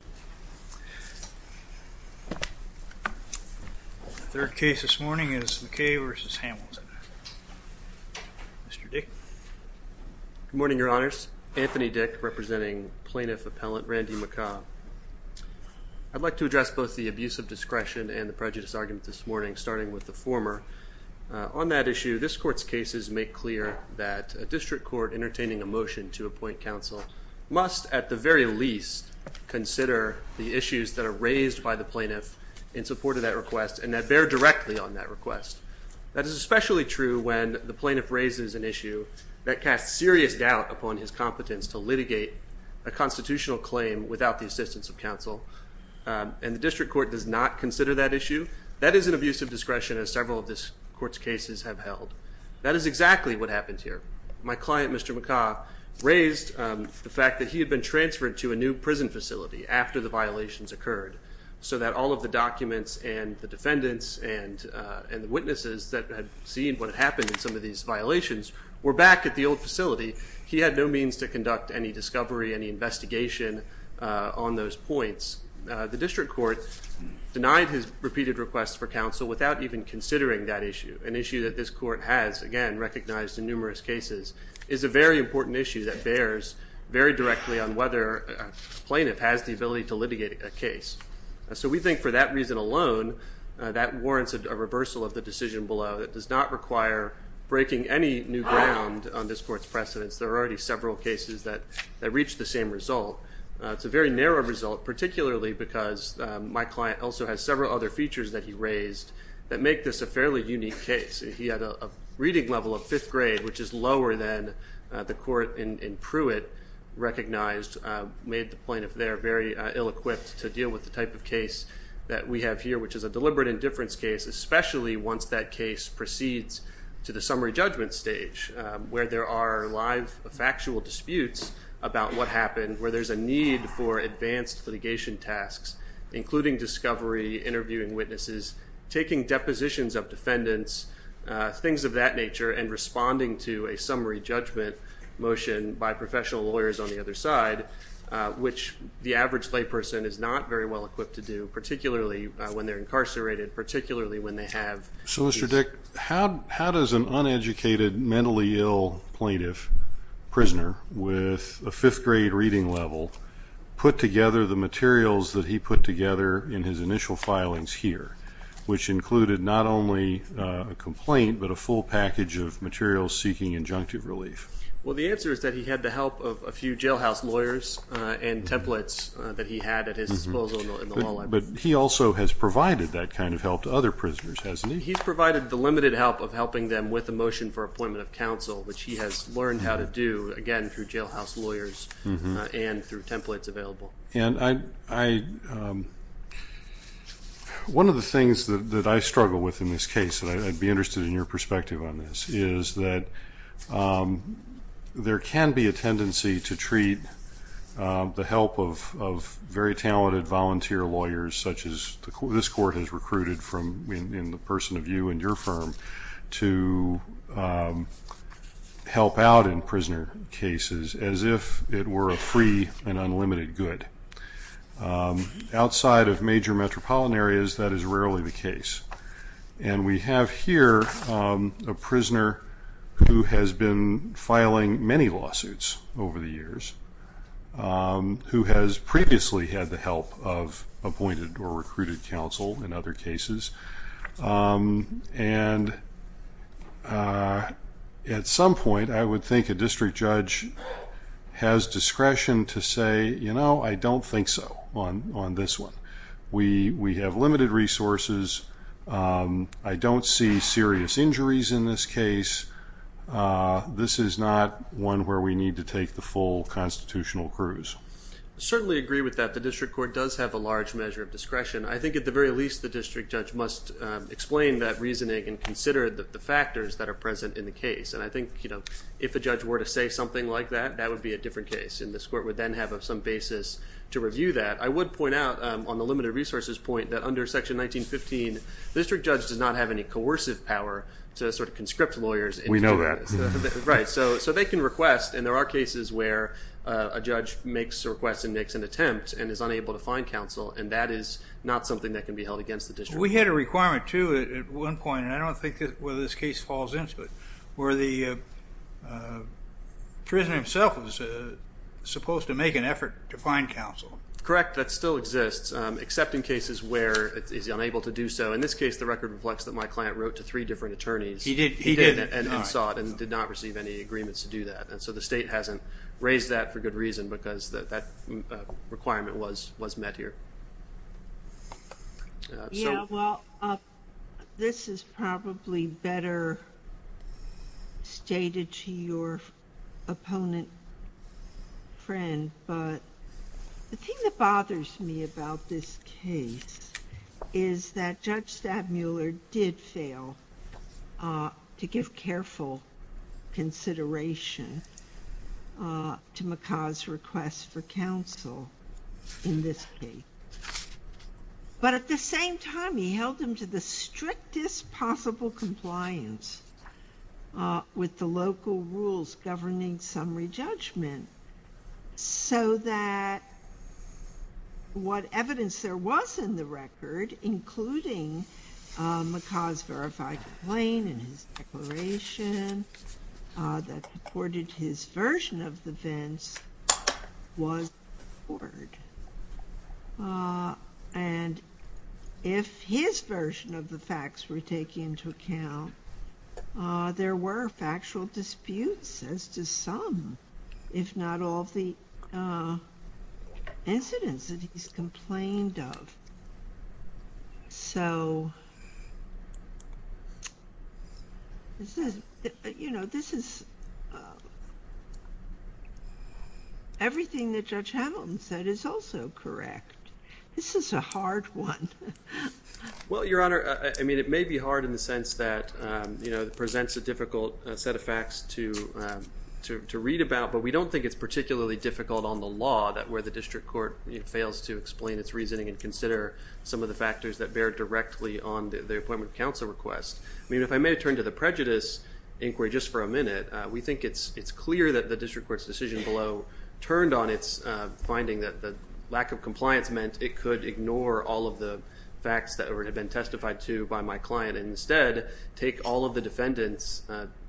The third case this morning is McCaa v. Hamilton. Mr. Dick. Good morning, Your Honors. Anthony Dick, representing Plaintiff Appellant Randy McCaa. I'd like to address both the abuse of discretion and the prejudice argument this morning, starting with the former. On that issue, this court's cases make clear that a district court entertaining a motion to appoint counsel must, at the very least, consider the issues that are raised by the plaintiff in support of that request and that bear directly on that request. That is especially true when the plaintiff raises an issue that casts serious doubt upon his competence to litigate a constitutional claim without the assistance of counsel, and the district court does not consider that issue. That is an abuse of discretion, as several of this court's cases have held. That is exactly what happened here. My client, Mr. McCaa, raised the fact that he had been transferred to a new prison facility after the violations occurred, so that all of the documents and the defendants and the witnesses that had seen what had happened in some of these violations were back at the old facility. He had no means to conduct any discovery, any investigation on those points. The district court denied his repeated requests for counsel without even considering that issue, an issue that this court has, again, recognized in numerous cases, is a very important issue that bears very directly on whether a plaintiff has the ability to litigate a case. So we think for that reason alone, that warrants a reversal of the decision below. It does not require breaking any new ground on this court's precedents. There are already several cases that reach the same result. It's a very narrow result, particularly because my client also has several other features that he raised that make this a fairly unique case. He had a reading level of in Pruitt recognized, made the plaintiff there very ill-equipped to deal with the type of case that we have here, which is a deliberate indifference case, especially once that case proceeds to the summary judgment stage, where there are live factual disputes about what happened, where there's a need for advanced litigation tasks, including discovery, interviewing witnesses, taking depositions of defendants, things of that nature, and responding to a summary judgment motion by professional lawyers on the other side, which the average layperson is not very well equipped to do, particularly when they're incarcerated, particularly when they have... So Mr. Dick, how does an uneducated, mentally ill plaintiff, prisoner, with a fifth grade reading level, put together the materials that he put together in his initial filings here, which included not only a complaint, but a full package of materials seeking injunctive relief? Well, the answer is that he had the help of a few jailhouse lawyers and templates that he had at his disposal in the law library. But he also has provided that kind of help to other prisoners, hasn't he? He's provided the limited help of helping them with a motion for appointment of counsel, which he has learned how to do, again, through jailhouse lawyers and through templates available. And I... One of the things that I struggle with in this case, and I'd be interested in your perspective on this, is that there can be a tendency to treat the help of very talented volunteer lawyers, such as this court has recruited from, in the person of you and your firm, to help out in prisoner cases as if it were a free and unlimited good. Outside of major metropolitan areas, that is rarely the case. And we have here a prisoner who has been filing many lawsuits over the years, who has previously had the help of appointed or recruited counsel in other cases. And at some point, I would think a district judge has discretion to say, you know, I don't think so on this one. We have limited resources. I don't see serious injuries in this case. This is not one where we need to take the full constitutional cruise. I certainly agree with that. The district court does have a large measure of discretion. I think at the very least, the district judge must explain that reasoning and consider the factors that are present in the case. And I think, you know, if a judge were to say something like that, that would be a basis to review that. I would point out, on the limited resources point, that under Section 1915, the district judge does not have any coercive power to sort of conscript lawyers. We know that. Right. So they can request, and there are cases where a judge makes a request and makes an attempt and is unable to find counsel, and that is not something that can be held against the district. We had a requirement, too, at one point, and I don't think this case falls into it, where the prisoner himself was supposed to make an effort to find counsel. Correct, that still exists, except in cases where it is unable to do so. In this case, the record reflects that my client wrote to three different attorneys. He did. He did and then sought and did not receive any agreements to do that, and so the state hasn't raised that for good reason, because that requirement was met here. Yeah, well, this is probably better stated to your opponent friend, but the thing that bothers me about this case is that Judge Stabmuller did fail to give careful consideration to McCaw's request for counsel in this case. But at the same time, he held him to the strictest possible compliance with the local rules governing summary judgment, so that what evidence there was in the record, including McCaw's verified complaint and his declaration that supported his version of the events, was ignored. And if his version of the facts were taken into account, there were factual disputes as to some, if not all, the incidents that he's complained of. So, this is, you know, this is everything that Judge Hamilton said is also correct. This is a hard one. Well, Your Honor, I mean, it may be hard in the sense that, you know, it presents a difficult set of facts to read about, but we don't think it's particularly difficult on the law that where the consider some of the factors that bear directly on the appointment of counsel request. I mean, if I may turn to the prejudice inquiry just for a minute, we think it's clear that the district court's decision below turned on its finding that the lack of compliance meant it could ignore all of the facts that had been testified to by my client and instead take all of the defendant's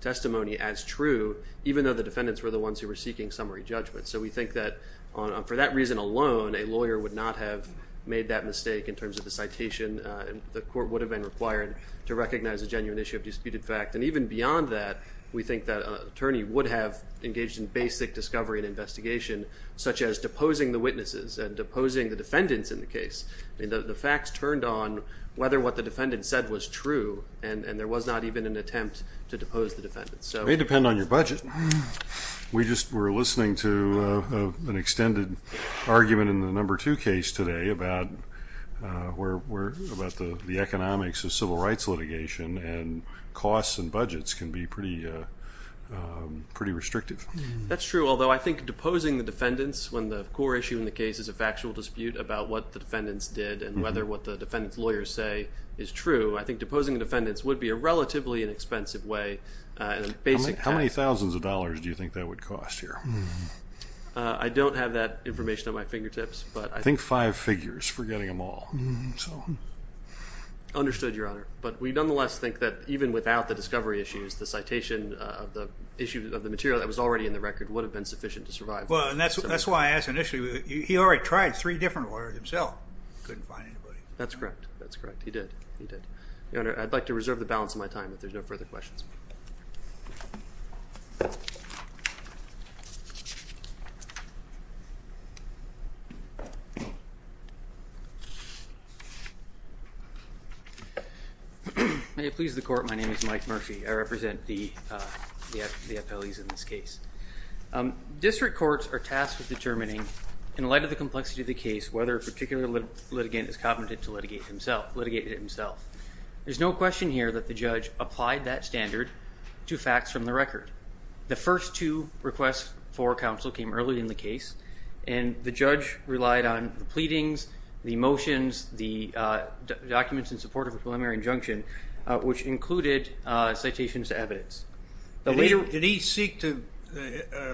testimony as true, even though the defendants were the ones who were seeking summary judgment. So, we think that for that reason alone, a made that mistake in terms of the citation. The court would have been required to recognize a genuine issue of disputed fact. And even beyond that, we think that an attorney would have engaged in basic discovery and investigation, such as deposing the witnesses and deposing the defendants in the case. I mean, the facts turned on whether what the defendant said was true and there was not even an attempt to depose the defendants. It may depend on your budget. We just were listening to an extended argument in the number two case today about the economics of civil rights litigation and costs and budgets can be pretty restrictive. That's true, although I think deposing the defendants when the core issue in the case is a factual dispute about what the defendants did and whether what the defendant's lawyers say is true, I think deposing the defendants would be a relatively inexpensive way. How many thousands of dollars do you think that would cost here? I don't have that five figures for getting them all. Understood, Your Honor, but we nonetheless think that even without the discovery issues, the citation of the issue of the material that was already in the record would have been sufficient to survive. Well, that's why I asked initially. He already tried three different lawyers himself. That's correct. That's correct. He did. He did. Your Honor, I'd like to reserve the balance of my time if there's no further questions. May it please the court, my name is Mike Murphy. I represent the appellees in this case. District courts are tasked with determining, in light of the complexity of the case, whether a particular litigant is competent to litigate himself. There's no question here that the judge applied that standard to facts from the record. The first two requests for counsel came early in the case and the judge relied on the pleadings, the motions, the documents in support of a preliminary injunction, which included citations to evidence. Did he seek to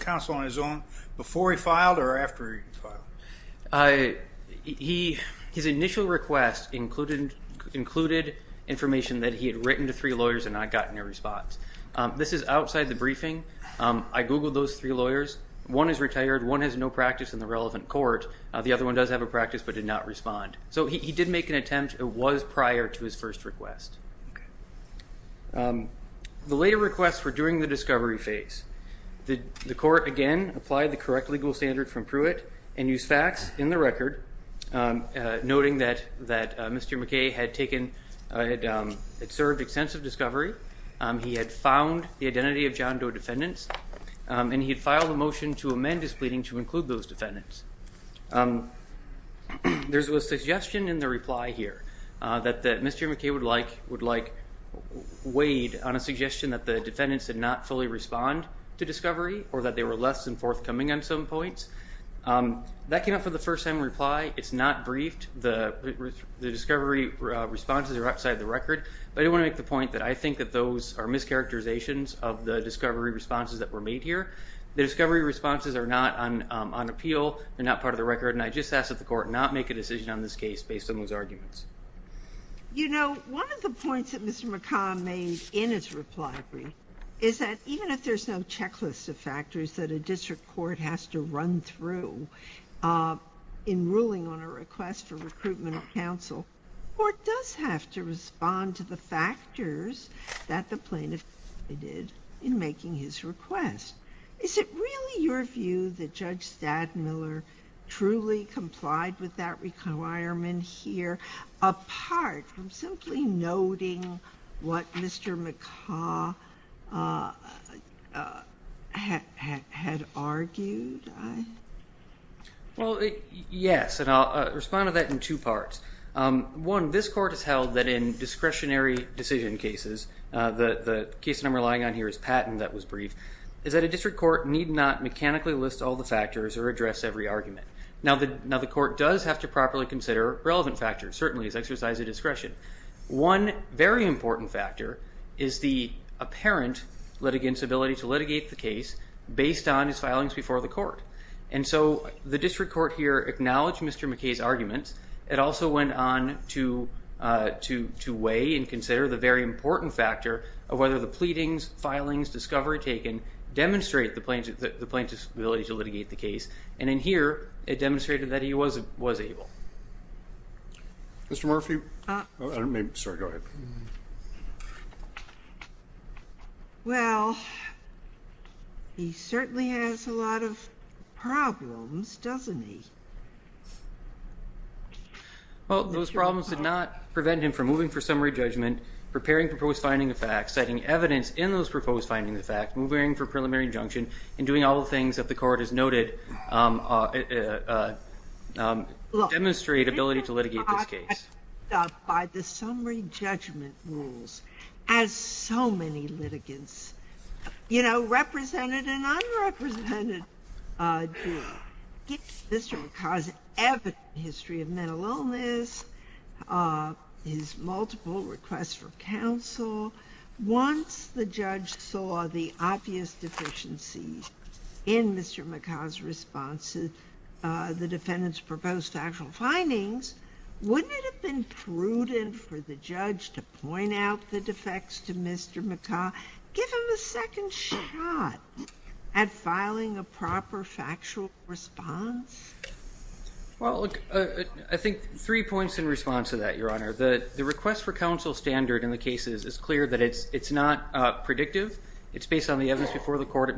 counsel on his own before he filed or after he filed? His initial request included information that he had written to three lawyers and not gotten a response. This is outside the briefing. I have two lawyers. One is retired. One has no practice in the relevant court. The other one does have a practice but did not respond. So he did make an attempt. It was prior to his first request. The later requests were during the discovery phase. The court again applied the correct legal standard from Pruitt and used facts in the record, noting that Mr. McKay had served extensive discovery. He had found the identity of John Doe defendants and he had filed a motion to amend his pleading to include those defendants. There's a suggestion in the reply here that Mr. McKay would like weighed on a suggestion that the defendants did not fully respond to discovery or that they were less than forthcoming on some points. That came up for the first time reply. It's not briefed. The discovery responses are outside the record but I think that those are mischaracterizations of the discovery responses that were made here. The discovery responses are not on appeal. They're not part of the record and I just ask that the court not make a decision on this case based on those arguments. You know one of the points that Mr. McKay made in his reply is that even if there's no checklist of factors that a district court has to run through in ruling on a request for recruitment of counsel, the court does have to look at the factors that the plaintiff did in making his request. Is it really your view that Judge Stadmiller truly complied with that requirement here apart from simply noting what Mr. McKay had argued? Well yes and I'll respond to that in two parts. One, this court has held that in discretionary decision cases, the case that I'm relying on here is Patton that was briefed, is that a district court need not mechanically list all the factors or address every argument. Now the court does have to properly consider relevant factors. Certainly it's exercise of discretion. One very important factor is the apparent litigant's ability to litigate the case based on his filings before the court and so the district court here acknowledged Mr. McKay's arguments. It also went on to weigh and consider the very important factor of whether the pleadings, filings, discovery taken demonstrate the plaintiff's ability to litigate the case and in here it demonstrated that he was able. Mr. Murphy? Well he certainly has a lot of problems, doesn't he? Well those problems did not prevent him from moving for summary judgment, preparing proposed finding of facts, citing evidence in those proposed findings of facts, moving for preliminary injunction, and doing all the things that the court has noted demonstrate ability to litigate this case. By the summary judgment rules, as so many litigants, you know, represented and unrepresented, to get to Mr. McKay's evident history of mental illness, his multiple requests for counsel. Once the judge saw the obvious deficiency in Mr. McKay's response to the defendant's proposed factual findings, wouldn't it have been prudent for the judge to point out the defects to Mr. McKay, give him a second shot at filing a proper factual response? Well, I think three points in response to that, Your Honor. The request for counsel standard in the cases is clear that it's it's not predictive, it's based on the evidence before the court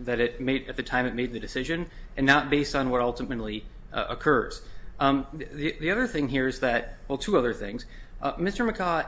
that it made at the time it made the decision, and not based on what ultimately occurs. The other thing here is that, well two other things, Mr. McKay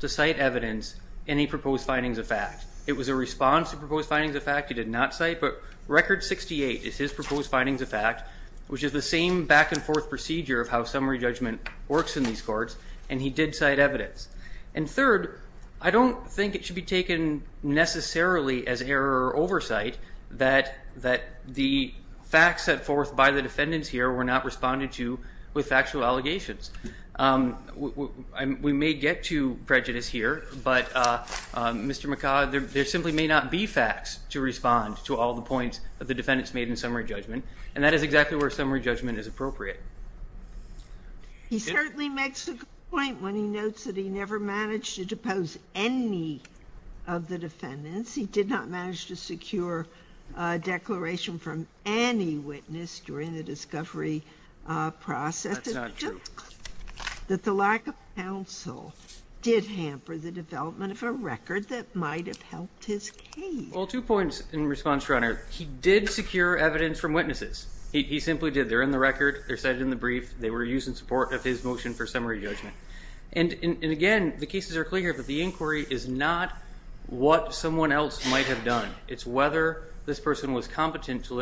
did cite evidence in any proposed findings of fact. It was a response to proposed findings of fact he did not cite, but record 68 is his proposed findings of fact, which is the same back-and-forth procedure of how summary judgment works in these courts, and he did cite evidence. And third, I don't think it should be taken necessarily as error or oversight that the facts set forth by the defendants here were not responded to with factual allegations. We may get to prejudice here, but Mr. McKay, there simply may not be facts to respond to all the points that the defendants made in summary judgment, and that is exactly where summary judgment is appropriate. He certainly makes the point when he notes that he never managed to depose any of the defendants. He did not manage to secure a declaration from any witness during the discovery process. That's not true. That the lack of counsel did hamper the development of a record that might have helped his case. Well, two points in response, Your Honor. He did secure evidence from witnesses. He simply did. They're in the record, they're cited in the brief, they were used in support of his motion for summary judgment. And again, the cases are clear, but the inquiry is not what someone else might have done. It's whether this person was competent to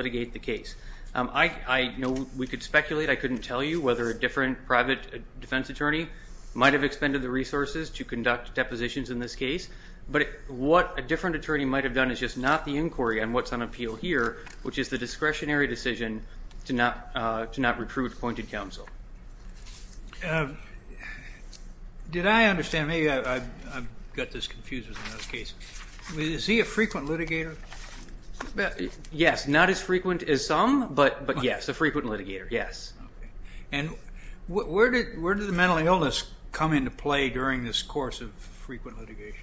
I know we could speculate, I couldn't tell you whether a different private defense attorney might have expended the resources to conduct depositions in this case, but what a different attorney might have done is just not the inquiry on what's on appeal here, which is the discretionary decision to not recruit appointed counsel. Did I understand, maybe I've got this confused Is he a frequent litigator? Yes, not as frequent as some, but yes, a frequent litigator, yes. And where did the mental illness come into play during this course of frequent litigation?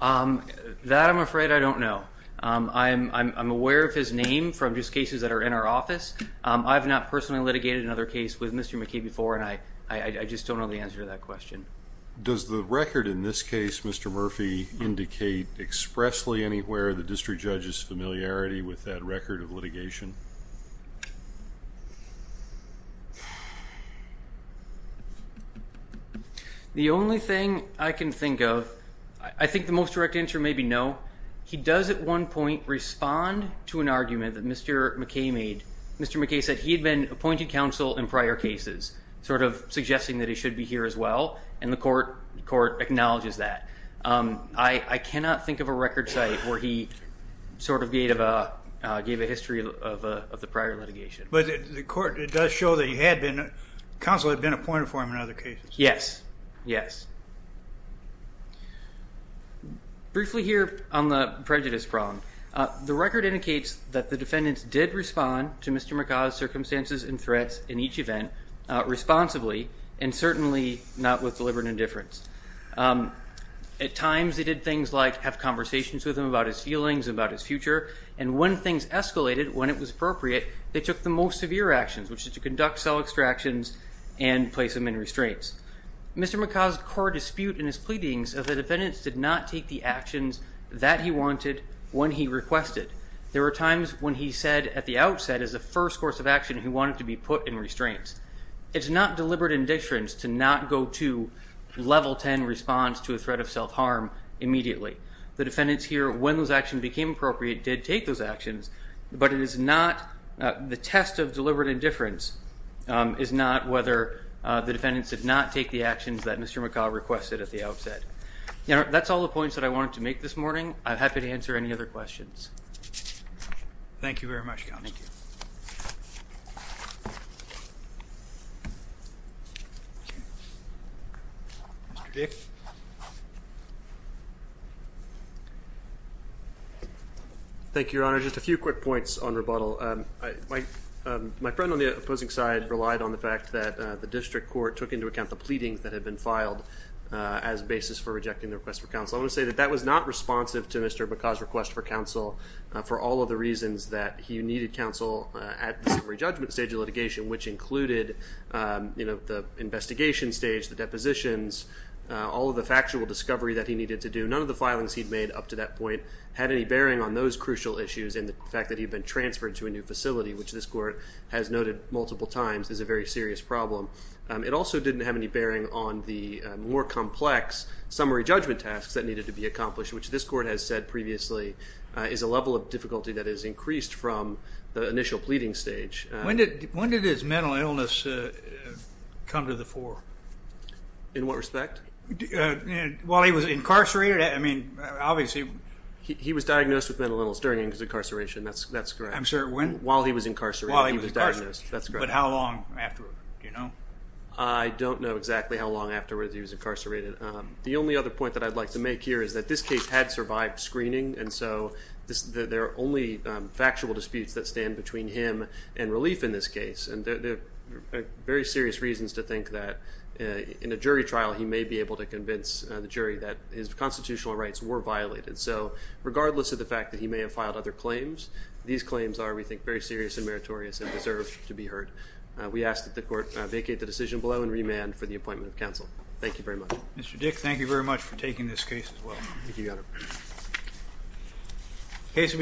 That I'm afraid I don't know. I'm aware of his name from just cases that are in our office. I've not personally litigated another case with Mr. McKee before, and I just don't know the answer to that The only thing I can think of, I think the most direct answer may be no. He does at one point respond to an argument that Mr. McKee made. Mr. McKee said he had been appointed counsel in prior cases, sort of suggesting that he should be here as well, and the court acknowledges that. I cannot think of a record site where he sort of gave a history of the prior litigation. But the court, it does show that he had been, counsel had been appointed for him in other cases. Yes, yes. Briefly here on the prejudice problem, the record indicates that the defendants did respond to Mr. McKee's circumstances and certainly not with deliberate indifference. At times they did things like have conversations with him about his feelings, about his future, and when things escalated, when it was appropriate, they took the most severe actions, which is to conduct cell extractions and place him in restraints. Mr. McKee's core dispute in his pleadings of the defendants did not take the actions that he wanted when he requested. There were times when he said at the outset, as the first course of action, he wanted to be put in restraints. It's not deliberate indifference to not go to level 10 response to a threat of self-harm immediately. The defendants here, when those actions became appropriate, did take those actions, but it is not, the test of deliberate indifference is not whether the defendants did not take the actions that Mr. McCaw requested at the outset. You know, that's all the points that I wanted to make this morning. I'm happy to answer any other questions. Thank you very much, Counsel. Thank you, Your Honor. Just a few quick points on rebuttal. My friend on the opposing side relied on the fact that the district court took into account the pleadings that had been filed as basis for rejecting the request for counsel. I want to say that that was not responsive to Mr. McCaw's request for counsel for all of the reasons that he needed counsel at the summary judgment stage of the investigation stage, the depositions, all of the factual discovery that he needed to do. None of the filings he'd made up to that point had any bearing on those crucial issues and the fact that he'd been transferred to a new facility, which this court has noted multiple times is a very serious problem. It also didn't have any bearing on the more complex summary judgment tasks that needed to be accomplished, which this court has said previously is a level of difficulty that has increased from the initial pleading stage. When did his mental illness come to the fore? In what respect? While he was incarcerated? I mean, obviously. He was diagnosed with mental illness during his incarceration, that's correct. I'm sorry, when? While he was incarcerated. While he was diagnosed, that's correct. But how long after, do you know? I don't know exactly how long afterwards he was incarcerated. The only other point that I'd like to make here is that this case had survived screening and so there are only factual disputes that stand between him and relief in this case and there are very serious reasons to think that in a jury trial he may be able to convince the jury that his constitutional rights were violated. So regardless of the fact that he may have filed other claims, these claims are, we think, very serious and meritorious and deserve to be heard. We ask that the court vacate the decision below and remand for the appointment of counsel. Thank you very much. Mr. Dick, thank you very much for taking this case as well.